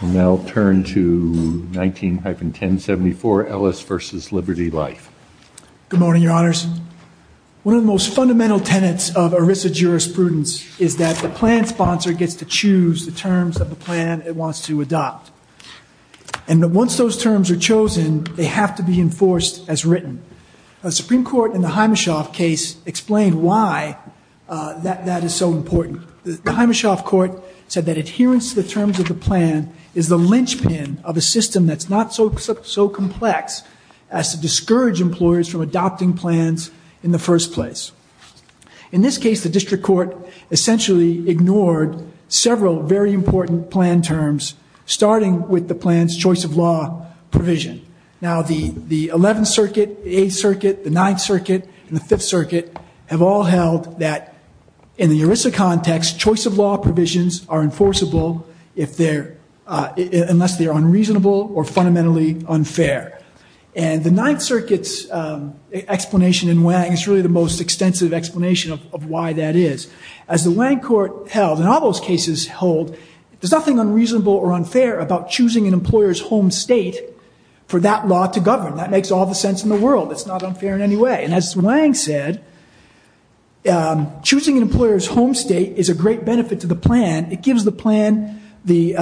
Now turn to 19-1074 Ellis v. Liberty Life Good morning, your honors. One of the most fundamental tenets of ERISA jurisprudence is that the plan sponsor gets to choose the terms of the plan it wants to adopt. And once those terms are chosen, they have to be enforced as written. The Supreme Court in the Himeshoff case explained why that that is so important. The Himeshoff court said that adherence to the terms of the plan is the linchpin of a system that's not so complex as to discourage employers from adopting plans in the first place. In this case, the district court essentially ignored several very important plan terms, starting with the plan's choice of law provision. Now the 11th Circuit, the 8th Circuit, the 9th Circuit, and the 5th Circuit have all held that in the ERISA context, choice of law provisions are enforceable if they're, unless they're unreasonable or fundamentally unfair. And the 9th Circuit's explanation in Wang is really the most extensive explanation of why that is. As the Wang court held, and all those cases hold, there's nothing unreasonable or unfair about choosing an employer's home state for that law to govern. That makes all the sense in the world. It's not unfair in any way. And as Wang said, choosing an employer's home state is a great benefit to the plan. It gives the plan the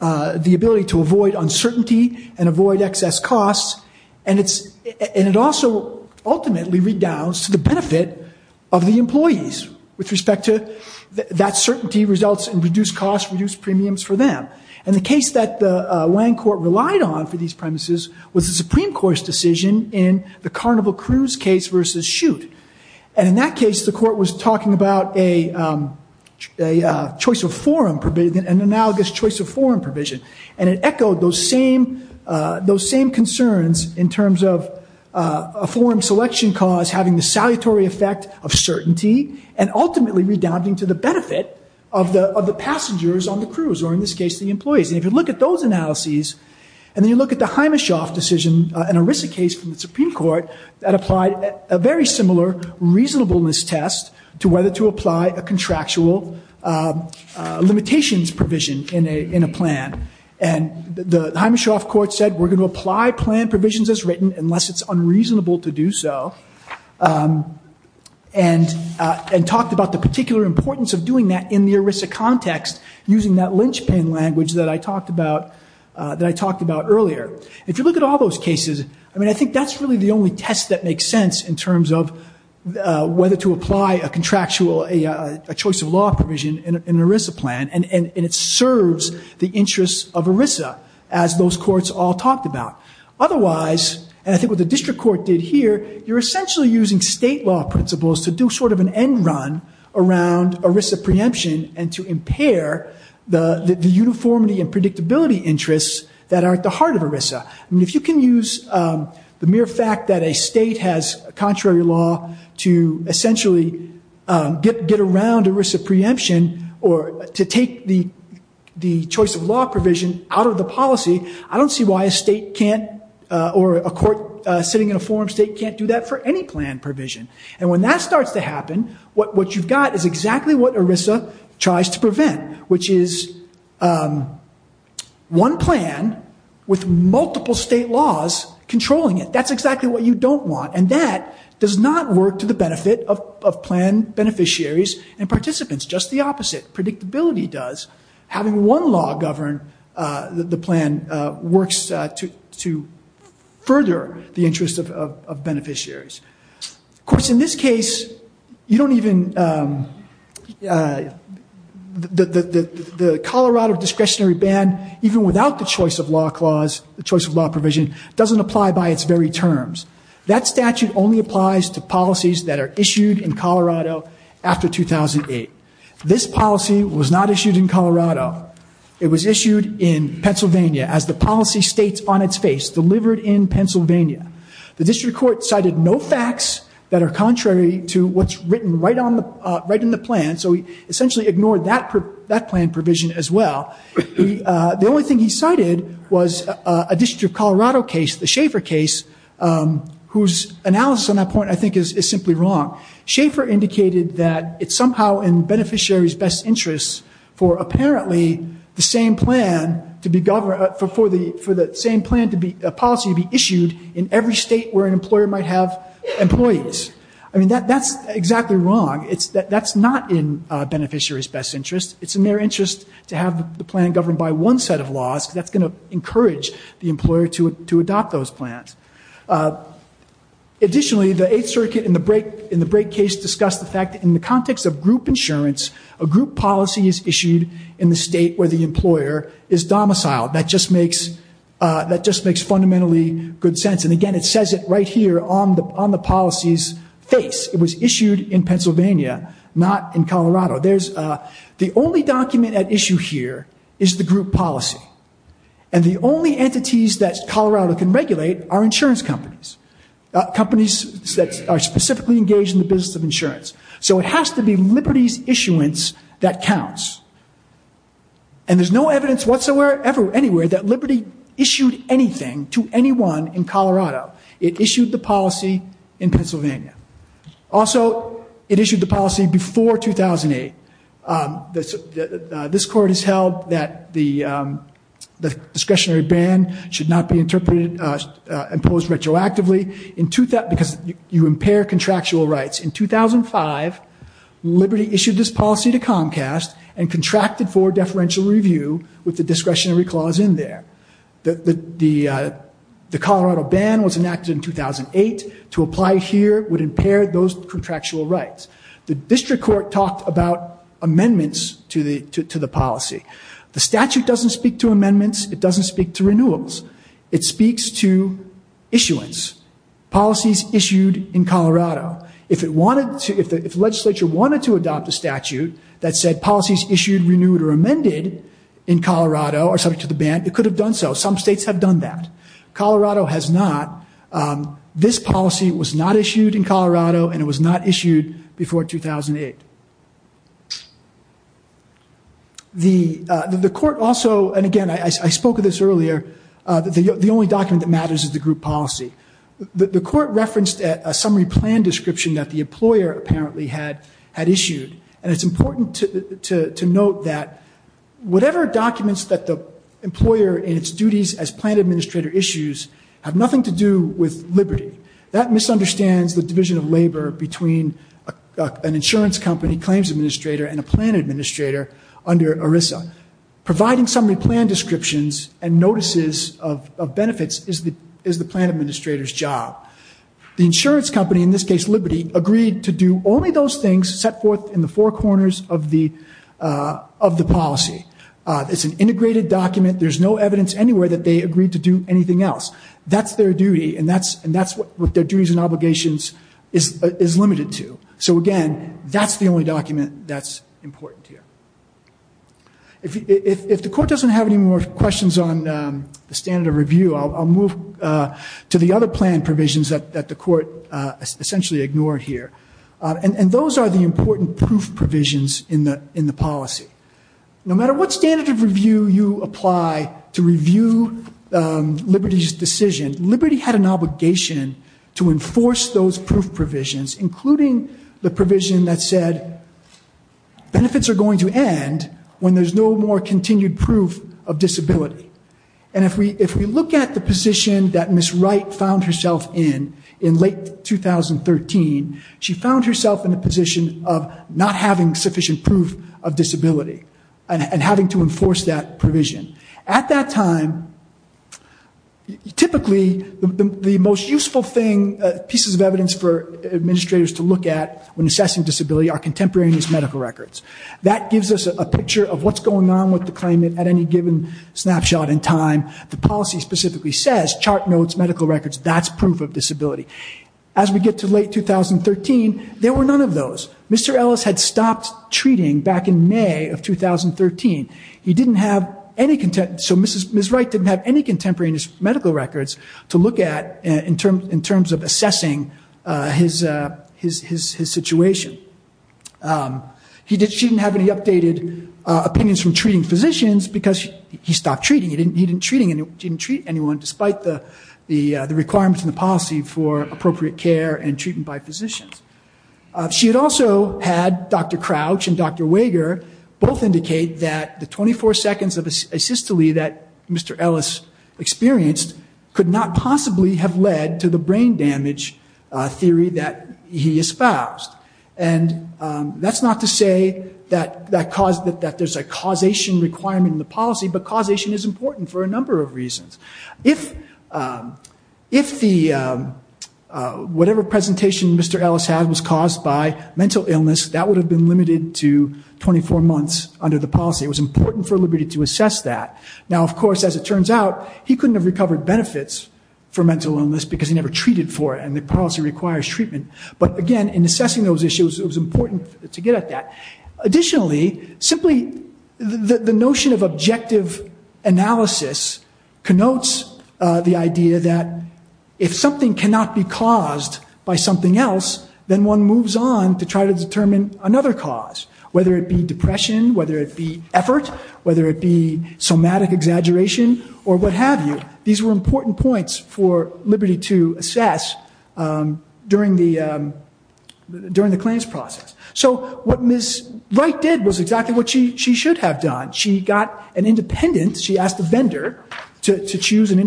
ability to avoid uncertainty and avoid excess costs. And it's, with respect to that certainty results in reduced costs, reduced premiums for them. And the case that the Wang court relied on for these premises was the Supreme Court's decision in the Carnival Cruise case versus Shoot. And in that case, the court was talking about a choice of forum provision, an analogous choice of forum provision. And it echoed those same, those same concerns in terms of a forum selection cause having the salutary effect of certainty and ultimately redounding to the benefit of the passengers on the cruise, or in this case, the employees. And if you look at those analyses, and then you look at the Himeshoff decision, an ERISA case from the Supreme Court that applied a very similar reasonableness test to whether to apply a contractual limitations provision in a plan. And the Himeshoff court said, we're going to apply plan provisions as written unless it's unreasonable to do so. And talked about the particular importance of doing that in the ERISA context using that linchpin language that I talked about earlier. If you look at all those cases, I mean, I think that's really the only test that makes sense in terms of whether to apply a contractual, a choice of law provision in an ERISA plan. And it I think what the district court did here, you're essentially using state law principles to do sort of an end run around ERISA preemption and to impair the uniformity and predictability interests that are at the heart of ERISA. I mean, if you can use the mere fact that a state has contrary law to essentially get around ERISA preemption or to take the choice of law provision out of the policy, I don't see why a state can't or a court sitting in a forum state can't do that for any plan provision. And when that starts to happen, what you've got is exactly what ERISA tries to prevent, which is one plan with multiple state laws controlling it. That's exactly what you don't want. And that does not work to the benefit of plan beneficiaries and participants. Just the works to further the interest of beneficiaries. Of course, in this case, you don't even, the Colorado discretionary ban, even without the choice of law clause, the choice of law provision doesn't apply by its very terms. That statute only applies to policies that are issued in Colorado after 2008. This policy was not issued in Colorado. It was issued in Pennsylvania, as the policy states on its face, delivered in Pennsylvania. The district court cited no facts that are contrary to what's written right in the plan, so he essentially ignored that plan provision as well. The only thing he cited was a district of Colorado case, the Schaefer case, whose analysis on that point I think is simply wrong. Schaefer indicated that it's somehow in beneficiaries' best interest for apparently the same plan to be governed, for the same plan to be, policy to be issued in every state where an employer might have employees. I mean, that's exactly wrong. That's not in beneficiaries' best interest. It's in their interest to have the plan governed by one set of laws, because that's going to encourage the employer to adopt those plans. Additionally, the Eighth Circuit in the Brake case discussed the fact that in the context of group insurance, a group policy is issued in the state where the employer is domiciled. That just makes fundamentally good sense. And again, it says it right here on the policy's face. It was issued in Pennsylvania, not in Colorado. The only document at issue here is the group policy. And the only entities that Colorado can regulate are insurance companies, companies that are specifically engaged in the business of insurance. So it has to be Liberty's issuance that counts. And there's no evidence whatsoever, anywhere, that Liberty issued anything to anyone in Colorado. It issued the policy in Pennsylvania. Also, it issued the policy before 2008. This court has held that the discretionary ban should not be imposed retroactively, because you impair contractual rights. In 2005, Liberty issued this policy to Comcast and contracted for deferential review with the discretionary clause in there. The Colorado ban was enacted in 2008. To apply here would impair those rights. The district court talked about amendments to the policy. The statute doesn't speak to amendments. It doesn't speak to renewables. It speaks to issuance, policies issued in Colorado. If the legislature wanted to adopt a statute that said policies issued, renewed, or amended in Colorado are subject to the ban, it could have done so. Some states have done that. Colorado has not. This policy was not issued in Colorado, and it was not issued before 2008. The court also, and again, I spoke of this earlier, the only document that matters is the group policy. The court referenced a summary plan description that the employer apparently had issued. And it's important to note that whatever documents that the employer in its duties as plan administrator issues have nothing to do with Liberty. That misunderstands the division of labor between an insurance company, claims administrator, and a plan administrator under ERISA. Providing summary plan descriptions and notices of benefits is the plan administrator's job. The insurance company, in this case Liberty, agreed to do only those things set forth in the four corners of the policy. It's an integrated document. There's no evidence anywhere that they agreed to do anything else. That's their duty, and that's what their duties and obligations is limited to. So again, that's the only document that's important here. If the court doesn't have any more questions on the standard of review, I'll move to the other plan provisions that the court essentially ignored here. And those are the important proof provisions in the policy. No matter what standard of review you apply to review Liberty's decision, Liberty had an obligation to enforce those proof provisions, including the provision that said benefits are going to end when there's no more continued proof of disability. And if we look at the position that Ms. Wright found herself in, in late 2013, she found herself in a position of not having sufficient proof of disability and having to enforce that provision. At that time, typically the most useful thing, pieces of evidence for administrators to look at when assessing disability are contemporaneous medical records. That gives us a picture of what's going on with the claimant at any given snapshot in time. The policy specifically says, chart notes, medical records, that's proof of disability. As we get to late 2013, there were none of those. Mr. Ellis had stopped treating back in May of 2013. He didn't have any, so Ms. Wright didn't have any contemporaneous medical records to look at in terms of assessing his situation. She didn't have any updated opinions from treating physicians because he stopped treating. He didn't treat anyone despite the requirements in the policy for appropriate care and treatment by physicians. She had also had Dr. Crouch and Dr. Wager both indicate that the 24 seconds of asystole that Mr. Ellis experienced could not possibly have led to the brain damage theory that he espoused. And that's not to say that there's a causation requirement in the Mr. Ellis had was caused by mental illness. That would have been limited to 24 months under the policy. It was important for Liberty to assess that. Now, of course, as it turns out, he couldn't have recovered benefits for mental illness because he never treated for it, and the policy requires treatment. But again, in assessing those issues, it was important to get at that. Additionally, simply the notion of objective analysis connotes the idea that if something cannot be caused by something else, then one moves on to try to determine another cause, whether it be depression, whether it be effort, whether it be somatic exaggeration, or what have you. These were important points for Liberty to assess during the claims process. So what Ms. Wright did was exactly what she should have done. She got an independent, she asked a vendor to choose an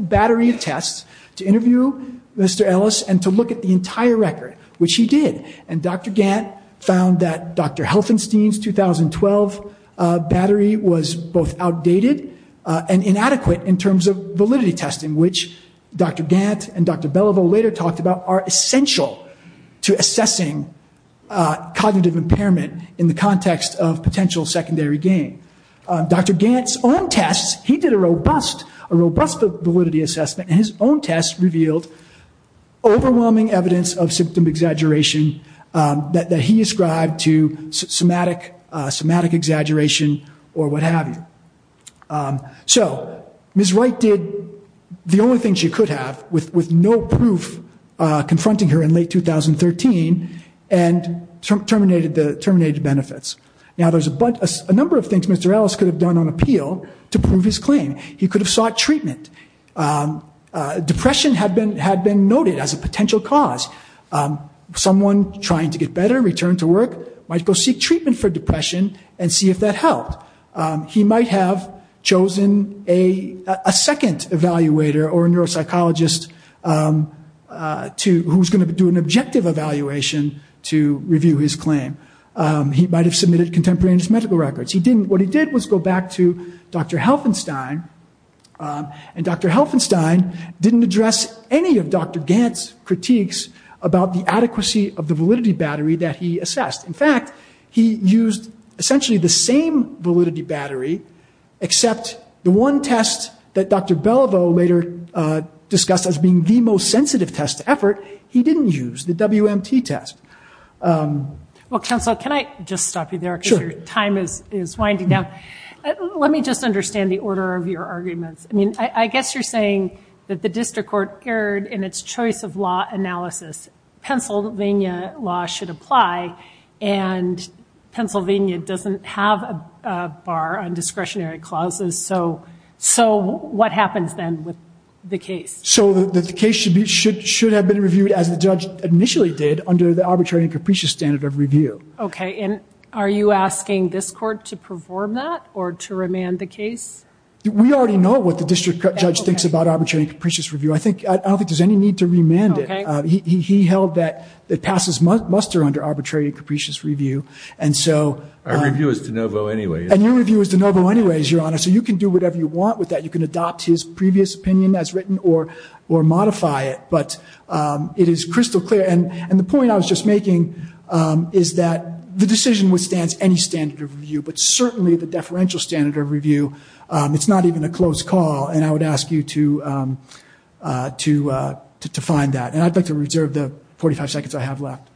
battery of tests to interview Mr. Ellis and to look at the entire record, which he did. And Dr. Gantt found that Dr. Helfenstein's 2012 battery was both outdated and inadequate in terms of validity testing, which Dr. Gantt and Dr. Belliveau later talked about are essential to assessing cognitive impairment in the context of potential secondary gain. Dr. Gantt's own tests, he did a robust validity assessment, and his own tests revealed overwhelming evidence of symptom exaggeration that he ascribed to somatic exaggeration or what have you. So Ms. Wright did the only thing she could have with no proof confronting her in late 2013 and terminated benefits. Now there's a number of things Mr. Ellis could have done on appeal to prove his claim. He could have sought treatment. Depression had been noted as a potential cause. Someone trying to get better, return to work, might go seek treatment for depression and see if that helped. He might have chosen a second evaluator or a neuropsychologist who's going to do an objective evaluation to review his claim. He might have submitted contemporaneous medical records. What he did was go back to Dr. Helfenstein and Dr. Helfenstein didn't address any of Dr. Gantt's critiques about the adequacy of the validity battery that he assessed. In fact, he used essentially the same validity battery except the one test that Dr. Belliveau later discussed as being the most sensitive test to effort, he didn't use, the WMT test. Well, counsel, can I just stop you there because your time is winding down. Let me just understand the order of your arguments. I mean, I guess you're saying that the district court erred in its choice of law analysis. Pennsylvania law should apply and Pennsylvania doesn't have a bar on discretionary clauses. So what happens then with the case? So the case should have been reviewed as the judge initially did under the arbitrary and capricious standard of review. Okay, and are you asking this court to perform that or to remand the case? We already know what the district judge thinks about arbitrary and capricious review. I think, I don't think there's any need to remand it. He held that it passes muster under arbitrary and capricious review and so. Our review is de novo anyway. And your review is de novo anyways, your honor. So you can do whatever you or modify it. But it is crystal clear. And the point I was just making is that the decision withstands any standard of review. But certainly the deferential standard of review, it's not even a close call. And I would ask you to find that. And I'd like to reserve the 45 seconds I have left.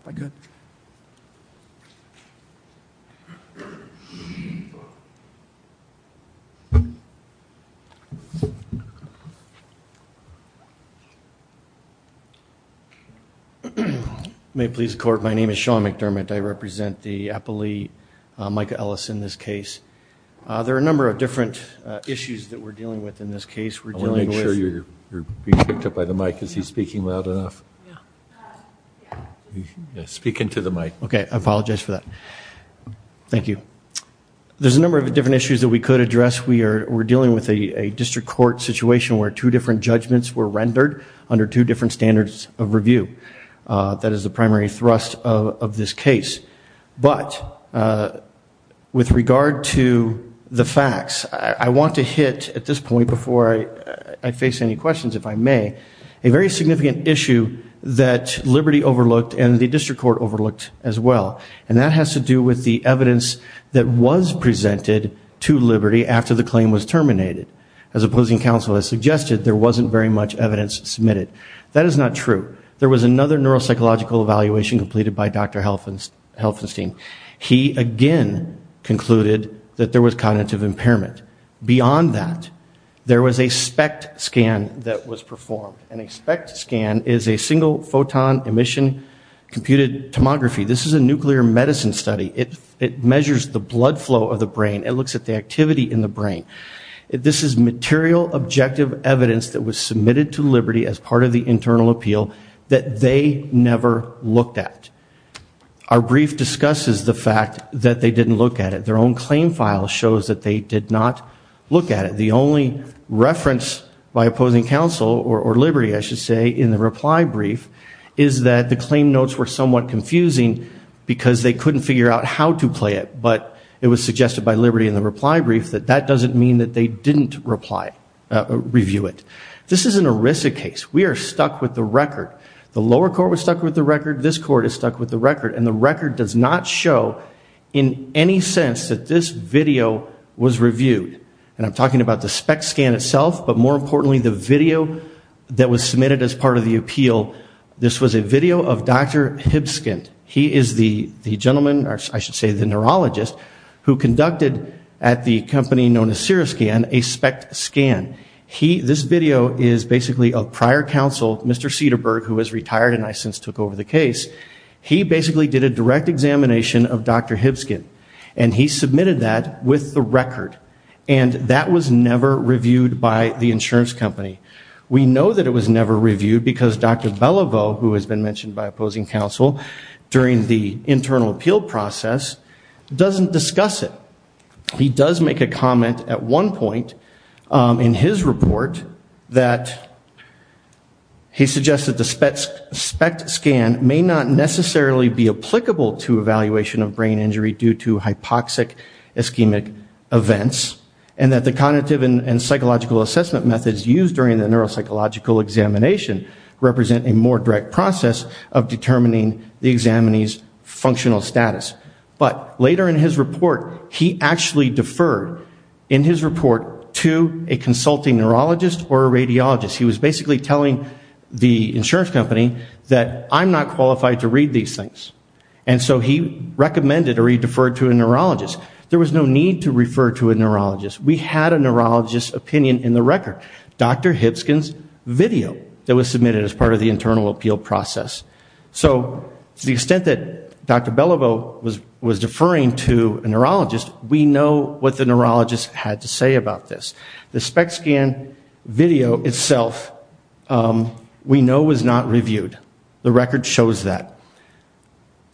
May it please the court, my name is Sean McDermott. I represent the appellee, Micah Ellis in this case. There are a number of different issues that we're dealing with in this case. We're dealing with. I want to make sure you're being picked up by the mic. Is he speaking loud enough? Speak into the mic. Okay, I apologize for that. Thank you. There's a number of different issues that we could address. We are, we're dealing with a district court situation where two different judgments were rendered under two different standards of review. That is the primary thrust of this case. But with regard to the facts, I want to hit at this point before I face any questions, if I may, a very significant issue that Liberty overlooked and the district court overlooked as well. And that has to do with the evidence that was presented to Liberty after the claim was terminated. As opposing counsel has suggested, there wasn't very much evidence submitted. That is not true. There was another neuropsychological evaluation completed by Dr. Helfenstein. He again concluded that there was cognitive impairment. Beyond that, there was a SPECT scan that was performed. And a SPECT scan is a single photon emission computed tomography. This is a nuclear medicine study. It measures the blood flow of the brain. It looks at the activity in the brain. This is material objective evidence that was submitted to Liberty as part of the internal appeal that they never looked at. Our brief discusses the fact that they didn't look at it. Their own claim file shows that they did not look at it. The only reference by opposing counsel or Liberty, I should say, in the reply brief is that the claim notes were somewhat confusing because they couldn't figure out how to play it. But it was suggested by Liberty in the reply brief that that doesn't mean that they didn't review it. This is an ERISA case. We are stuck with the record. The lower court was stuck with the record. This court is stuck with the record. And the record does not show in any sense that this video was reviewed. And I'm talking about the SPECT scan itself, but more importantly the video that was submitted as part of the appeal. This was a video of Dr. Hibskind. He is the gentleman, or I should say the neurologist, who conducted at the company known as Seroscan a SPECT scan. This video is basically of prior counsel, Mr. Cederberg, who was retired and I since took over the case. He basically did a direct examination of Dr. Hibskind and he submitted that with the record. And that was never reviewed by the insurance company. We know that it was never reviewed because Dr. Beliveau, who has been mentioned by opposing counsel during the internal appeal process, doesn't discuss it. He does make a comment at one point in his report that he suggested the SPECT scan may not necessarily be applicable to evaluation of brain injury due to hypoxic ischemic events and that the cognitive and psychological assessment methods used during the neuropsychological examination represent a more direct process of determining the examinee's functional status. But later in his report, he actually deferred in his report to a consulting neurologist or a radiologist. He was basically telling the insurance company that I'm not qualified to read these things. And so he recommended or he deferred to a neurologist. There was no need to refer to a neurologist. We had a neurologist opinion in the record. Dr. Hibskind's video that was submitted as part of the internal appeal process. So to the extent that Dr. Beliveau was was deferring to a neurologist, we know what the neurologist had to say about this. The SPECT scan video itself we know was not reviewed. The record shows that.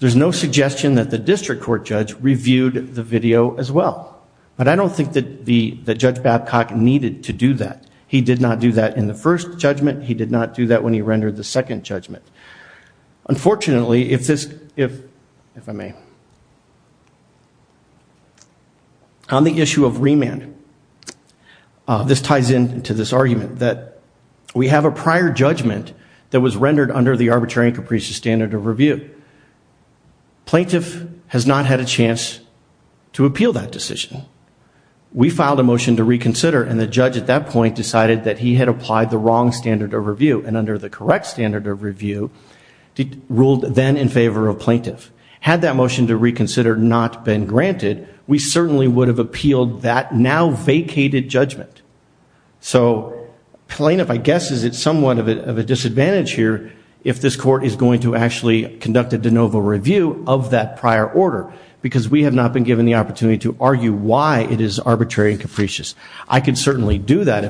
There's no suggestion that the district court judge reviewed the video as well. But I don't think that Judge Babcock needed to do that. He did not do that in the first judgment. He did not do that when he rendered the second judgment. Unfortunately, if this, if I may, on the issue of remand, this ties into this argument that we have a prior judgment that was rendered under the arbitrary and capricious standard of review. Plaintiff has not had a chance to appeal that decision. We filed a motion to reconsider and the judge at that point decided that he had applied the wrong standard of review and under the correct standard of review, ruled then in favor of plaintiff. Had that motion to reconsider not been granted, we certainly would have appealed that now vacated judgment. So plaintiff, I guess, is at somewhat of a disadvantage here if this court is going to actually conduct a de novo review of that prior order, because we have not been given the opportunity to argue why it is arbitrary and capricious. I can certainly do that.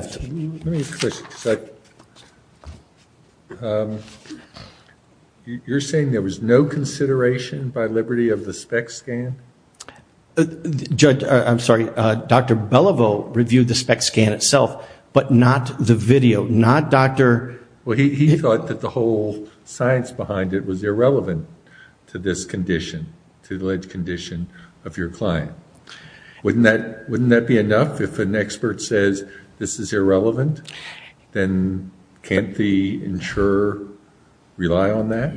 You're saying there was no consideration by liberty of the spec scan? Judge, I'm sorry, Dr. Beliveau reviewed the spec scan itself, but not the video, not Dr. Well, he thought that the whole science behind it was irrelevant to this condition, to the alleged condition of your client. Wouldn't that be enough if an expert says this is irrelevant? Then can't the insurer rely on that?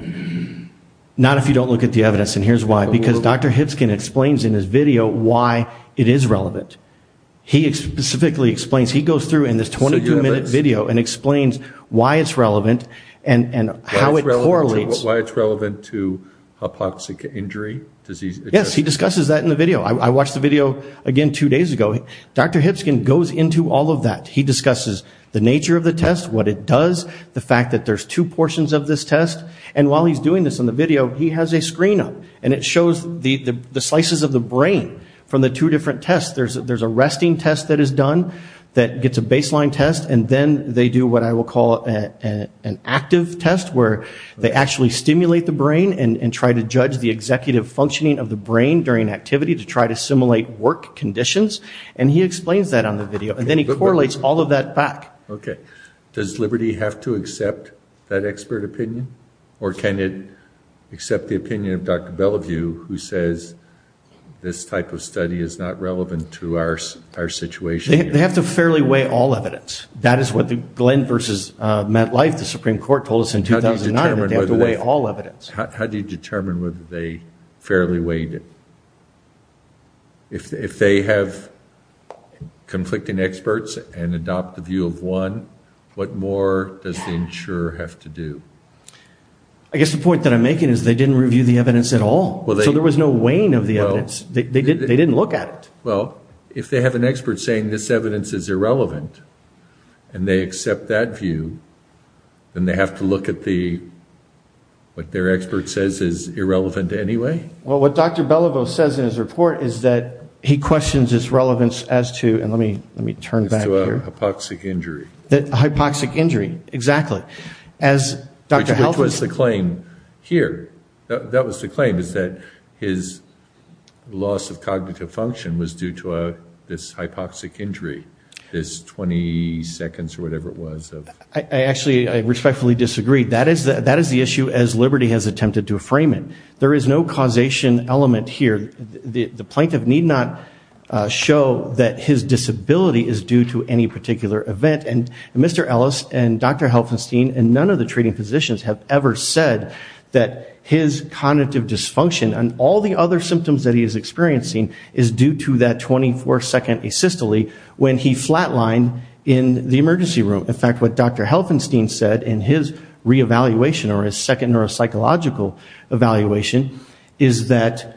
Not if you don't look at the evidence, and here's why. Because Dr. Hipskin explains in his video why it is relevant. He specifically explains, he goes through in this 22 minute video and explains why it's relevant and how it correlates. Why it's relevant to hypoxic injury? Yes, he discusses that in the video. I watched the video again two days ago. Dr. Hipskin goes into all of that. He discusses the nature of the test, what it does, the fact that there's two portions of this test, and while he's doing this in the video, he has a screen up, and it shows the slices of the brain from the two different tests. There's a resting test that is done that gets a baseline test, and then they do what I call an active test, where they actually stimulate the brain and try to judge the executive functioning of the brain during activity to try to simulate work conditions, and he explains that on the video, and then he correlates all of that back. Okay, does Liberty have to accept that expert opinion, or can it accept the opinion of Dr. Bellevue, who says this type of study is not met life? The Supreme Court told us in 2009 that they have to weigh all evidence. How do you determine whether they fairly weighed it? If they have conflicting experts and adopt the view of one, what more does the insurer have to do? I guess the point that I'm making is they didn't review the evidence at all, so there was no weighing of the evidence. They didn't look at it. Well, if they have an expert saying this evidence is irrelevant, and they accept that view, then they have to look at what their expert says is irrelevant anyway. Well, what Dr. Bellevue says in his report is that he questions his relevance as to, and let me turn back here. Hypoxic injury. Hypoxic injury, exactly. Which was the claim here. That was the claim, is that his loss of cognitive function was due to this hypoxic injury, this 20 seconds or whatever it was. I actually respectfully disagree. That is the issue as Liberty has attempted to frame it. There is no causation element here. The plaintiff need not show that his disability is due to any particular event, and Mr. Ellis and Dr. Helfenstein and none of the treating physicians have ever said that his cognitive dysfunction and all the other symptoms that he is experiencing is due to that 24 second asystole when he flatlined in the emergency room. In fact, what Dr. Helfenstein said in his reevaluation or his second neuropsychological evaluation is that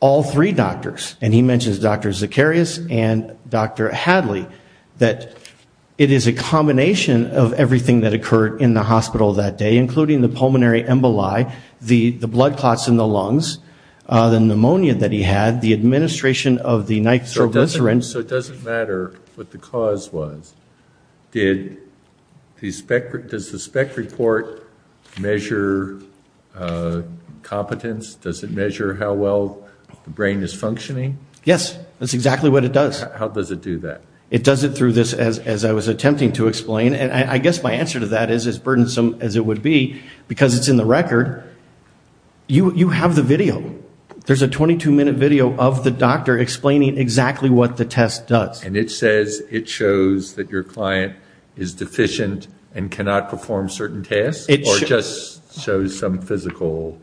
all three doctors, and he mentions Dr. Zacarias and Dr. Hadley, that it is a combination of everything that occurred in the hospital that day, including the pulmonary emboli, the blood clots in the lungs, the pneumonia that he had, the administration of the nitroglycerin. So it doesn't matter what the cause was. Does the spec report measure competence? Does it measure how well the brain is functioning? Yes, that's exactly what it does. How does it do that? It does it through this, as I was attempting to explain, and I guess my answer to that is, as burdensome as it would be, because it's in the record, you have the video. There's a 22 minute video of the doctor explaining exactly what the test does. And it says it shows that your client is deficient and cannot perform certain tasks, or just shows some physical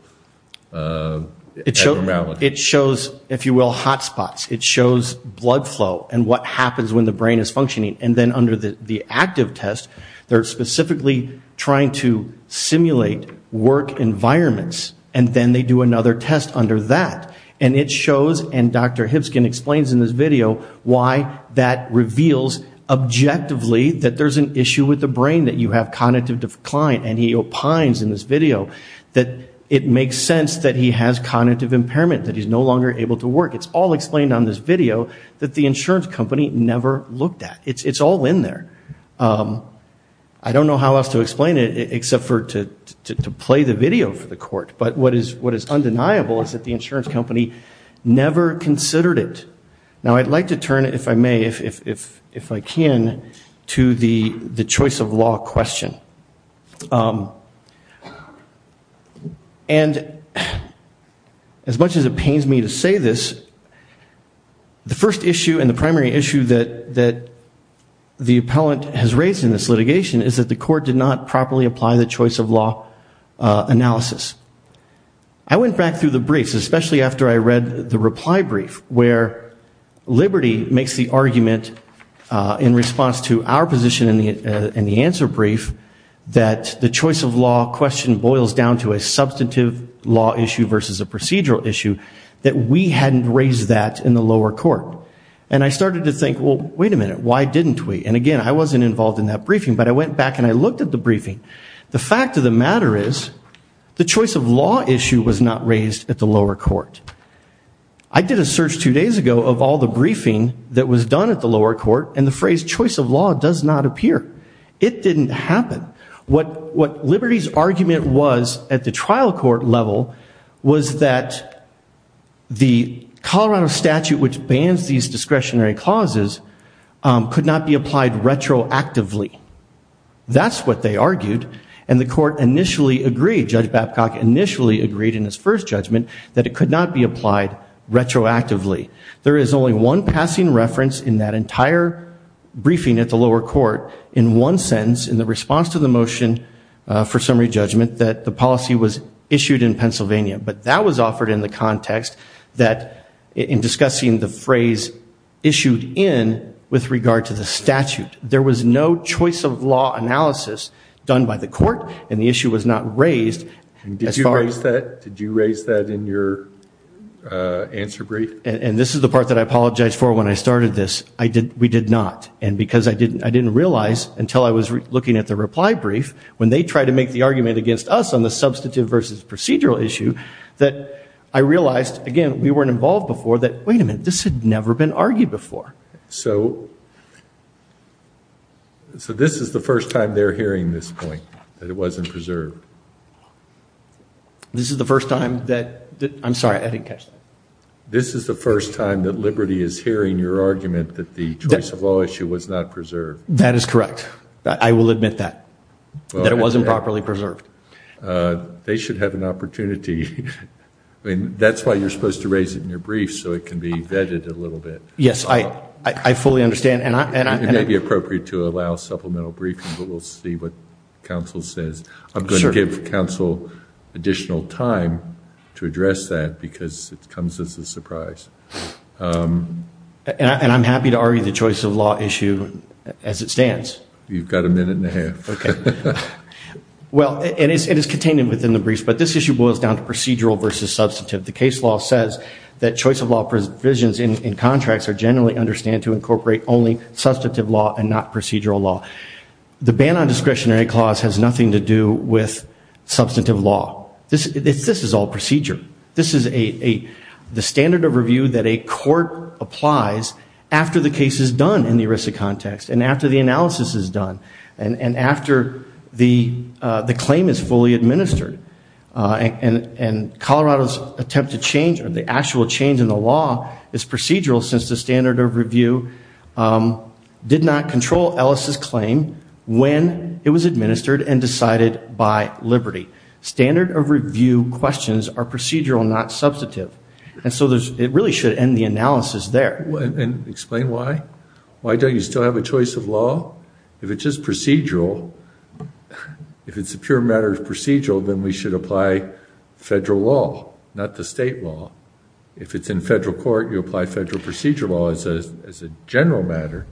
abnormality? It shows, if you will, hot spots. It shows blood flow and what happens when the brain is functioning. And then under the active test, they're specifically trying to simulate work environments. And then they do another test under that. And it shows, and Dr. Hipskin explains in this video, why that reveals objectively that there's an issue with the brain, that you have cognitive decline. And he opines in this video that it makes sense that he has cognitive impairment, that he's no longer able to work. It's all explained on this video that the insurance company never looked at. It's all in there. I don't know how else to explain it except for to play the video for the court. But what is undeniable is that the insurance company never considered it. Now, I'd like to turn, if I may, if I can, to the choice of law question. And as much as it pains me to say this, the first issue and the primary issue that the appellant has raised in this litigation is that the court did not properly apply the choice of law analysis. I went back through the briefs, especially after I read the reply brief, where Liberty makes the argument in response to our position in the answer brief, that the choice of law question boils down to a substantive law issue versus a procedural issue, that we hadn't raised that in the lower court. And I started to think, well, wait a minute, why didn't we? And again, I wasn't involved in that briefing, but I went back and I looked at the briefing. The fact of the matter is, the choice of law issue was not raised at the lower court. I did a search two days ago of all the briefing that was done at the lower court, and the phrase choice of law does not appear. It didn't happen. What Liberty's argument was at the trial court level was that the Colorado statute, which bans these discretionary clauses, could not be applied retroactively. That's what they argued. And the court initially agreed, Judge Babcock initially agreed in his first judgment that it could not be applied retroactively. There is only one passing reference in that entire briefing at the lower court in one sentence in the response to the motion for summary judgment that the policy was issued in Pennsylvania. But that was offered in the context that in discussing the phrase issued in with regard to the statute, there was no choice of law analysis done by the court, and the issue was not raised. Did you raise that in your answer brief? And this is the part that I apologize for when I started this. We did not. And because I didn't realize until I was looking at the reply brief, when they tried to make the argument against us on the substantive versus procedural issue, that I realized, again, we weren't involved before that, wait a minute, this had never been argued before. So, so this is the first time they're hearing this point, that it wasn't preserved. This is the first time that, I'm sorry, I didn't catch that. This is the first time that Liberty is hearing your argument that the choice of law issue was not preserved. That is correct. I will admit that. That it wasn't properly preserved. They should have an opportunity. I mean, that's why you're supposed to raise it in your brief so it can be vetted a Yes, I, I fully understand. And it may be appropriate to allow supplemental briefings, but we'll see what counsel says. I'm going to give counsel additional time to address that because it comes as a surprise. And I'm happy to argue the choice of law issue as it stands. You've got a minute and a half. Okay. Well, it is contained within the briefs, but this issue boils down to procedural versus substantive. The case law says that choice of law provisions in contracts are generally understand to incorporate only substantive law and not procedural law. The ban on discretionary clause has nothing to do with substantive law. This, this is all procedure. This is a, the standard of review that a court applies after the case is done in the ERISA context and after the analysis is done and after the claim is fully administered. And Colorado's attempt to change or the actual change in the law is procedural since the standard of review did not control Ellis's claim when it was administered and decided by Liberty. Standard of review questions are procedural, not substantive. And so there's, it really should end the analysis there. And explain why, why don't you still have a choice of law? If it's just procedural, if it's a pure matter of procedural, then we should apply federal law, not the state law. If it's in federal court, you apply federal procedure law as a, as a general matter.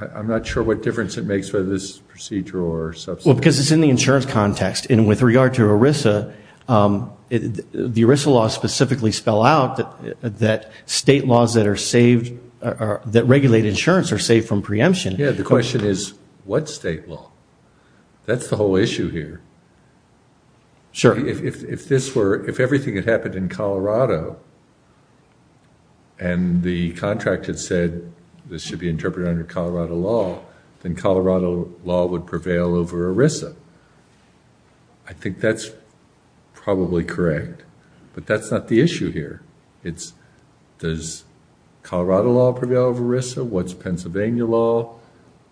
I'm not sure what difference it makes whether this is procedural or substantive. Well, because it's in the insurance context and with regard to ERISA, the ERISA law specifically spell out that, that state laws that are saved, that regulate insurance are saved from preemption. Yeah, the question is what state law? That's the whole issue here. Sure. If, if this were, if everything had happened in Colorado and the contract had said this should be interpreted under Colorado law, then Colorado law would prevail over ERISA. I think that's probably correct, but that's not the issue here. It's does Colorado law prevail over ERISA? What's Pennsylvania law?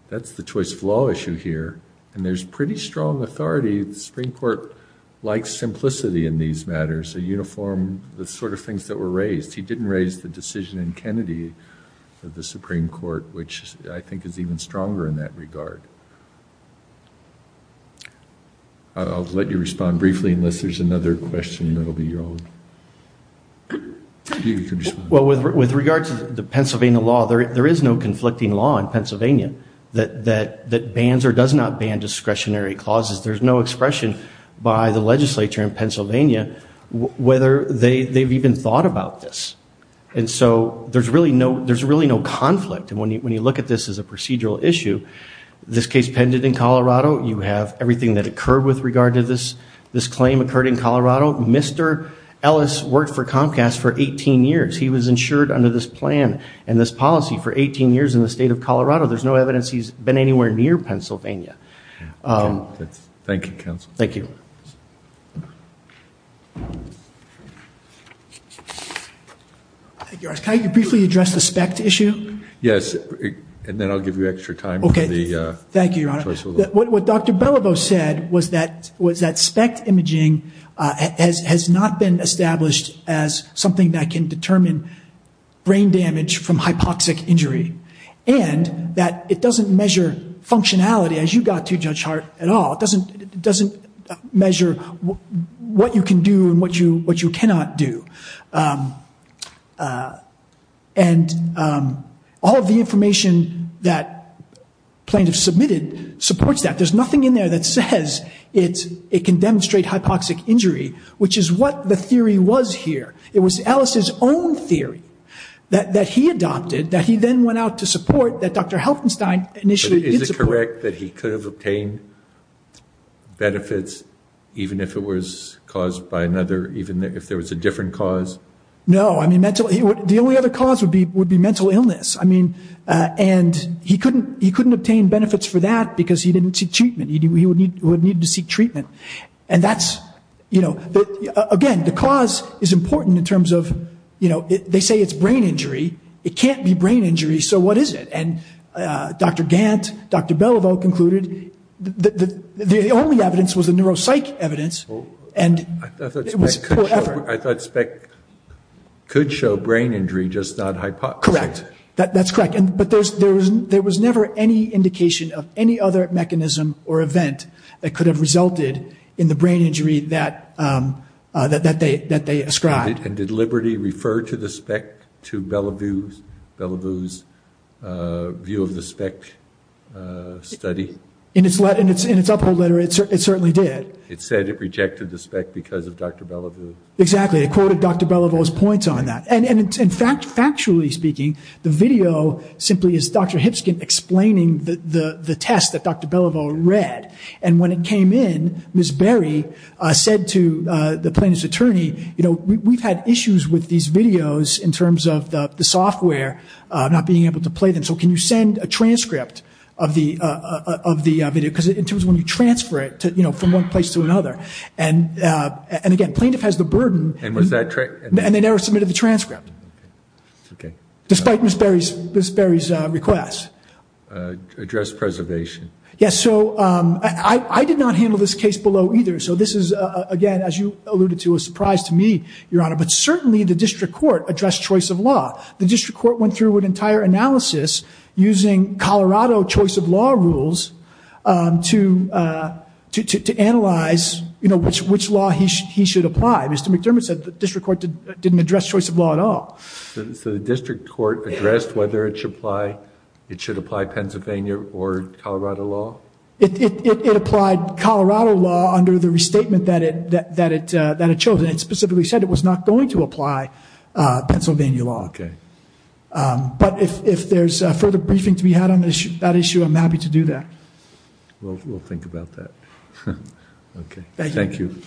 That's the choice of law issue here. And there's pretty strong authority. The Supreme Court likes simplicity in these matters, a uniform, the sort of things that were raised. He didn't raise the decision in Kennedy of the Supreme Court, which I think is even stronger in that regard. I'll let you respond briefly, unless there's another question that'll be your own. Well, with, with regard to the Pennsylvania law, there, there is no conflicting law in Pennsylvania that, that, that bans or does not ban discretionary clauses. There's no expression by the legislature in Pennsylvania whether they, they've even thought about this. And so there's really no, there's really no conflict. And when you, when you look at this as a procedural issue, this case pended in Colorado, you have everything that occurred with regard to this, this claim occurred in Colorado. Mr. Ellis worked for Comcast for 18 years. He was insured under this plan and this policy for 18 years in the state of Colorado. There's no evidence he's been anywhere near Pennsylvania. Thank you, counsel. Thank you. Can I briefly address the SPECT issue? Yes. And then I'll give you extra time. Okay. Thank you, Your Honor. What Dr. Belliveau said was that, was that SPECT imaging has, has not been established as something that can determine brain damage from hypoxic injury and that it doesn't measure functionality as you got to, Judge Hart, at all. It doesn't, it doesn't measure what you can do and what you, what you cannot do. And all of the information that plaintiff submitted supports that. There's nothing in there that says it's, it can demonstrate hypoxic injury, which is what the theory was here. It was Ellis's own theory that, that he adopted, that he then went out to support that Dr. Helfenstein initiated. Is it correct that he could have obtained benefits even if it was caused by another, even if there was a different cause? No. I mean, mental, the only other cause would be, would be mental illness. I mean, and he couldn't, he couldn't obtain benefits for that because he didn't seek treatment. He would need, would need to seek treatment. And that's, you know, again, the cause is important in terms of, you know, they say it's brain injury. It can't be brain injury. So what is it? And Dr. Gant, Dr. Belliveau concluded that the only evidence was the neuropsych evidence, and it was poor effort. I thought SPEC could show brain injury, just not hypoxic. Correct. That's correct. And, but there's, there was never any indication of any other mechanism or event that could have resulted in the brain injury that, that they, that they ascribed. And did Liberty refer to the SPEC to Belliveau's, Belliveau's view of the SPEC study? In its letter, in its, in its uphold letter, it certainly did. It said it rejected the SPEC because of Dr. Belliveau. Exactly. It quoted Dr. Belliveau's points on that. And, and in fact, factually speaking, the video simply is Dr. Hipskin explaining the, the, the test that Dr. Belliveau read. And when it came in, Ms. Berry said to the plaintiff's attorney, you know, we've had issues with these videos in terms of the software not being able to play them. So can you send a transcript of the, of the video? Because in terms of when you transfer it to, you know, from one place to another, and, and again, plaintiff has the burden. And was that. And they never submitted the transcript. Okay. Despite Ms. Berry's, Ms. Berry's request. Address preservation. Yes. So I, I did not handle this case below either. So this is again, as you alluded to, a surprise to me, Your Honor, but certainly the district court addressed choice of law. The district court went through an entire analysis using Colorado choice of law rules to, to, to, to analyze, you know, which, which law he, he should apply. Mr. McDermott said the district court didn't address choice of law at all. So the district court addressed whether it should apply, it should apply Pennsylvania or Colorado law? It, it, it applied Colorado law under the restatement that it, that it, that it chose. It specifically said it was not going to apply Pennsylvania law. Okay. But if, if there's a further briefing to be had on that issue, I'm happy to do that. We'll, we'll think about that. Okay. Thank you.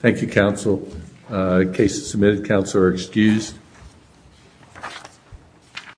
Thank you, counsel. Case submitted. Counsel are excused.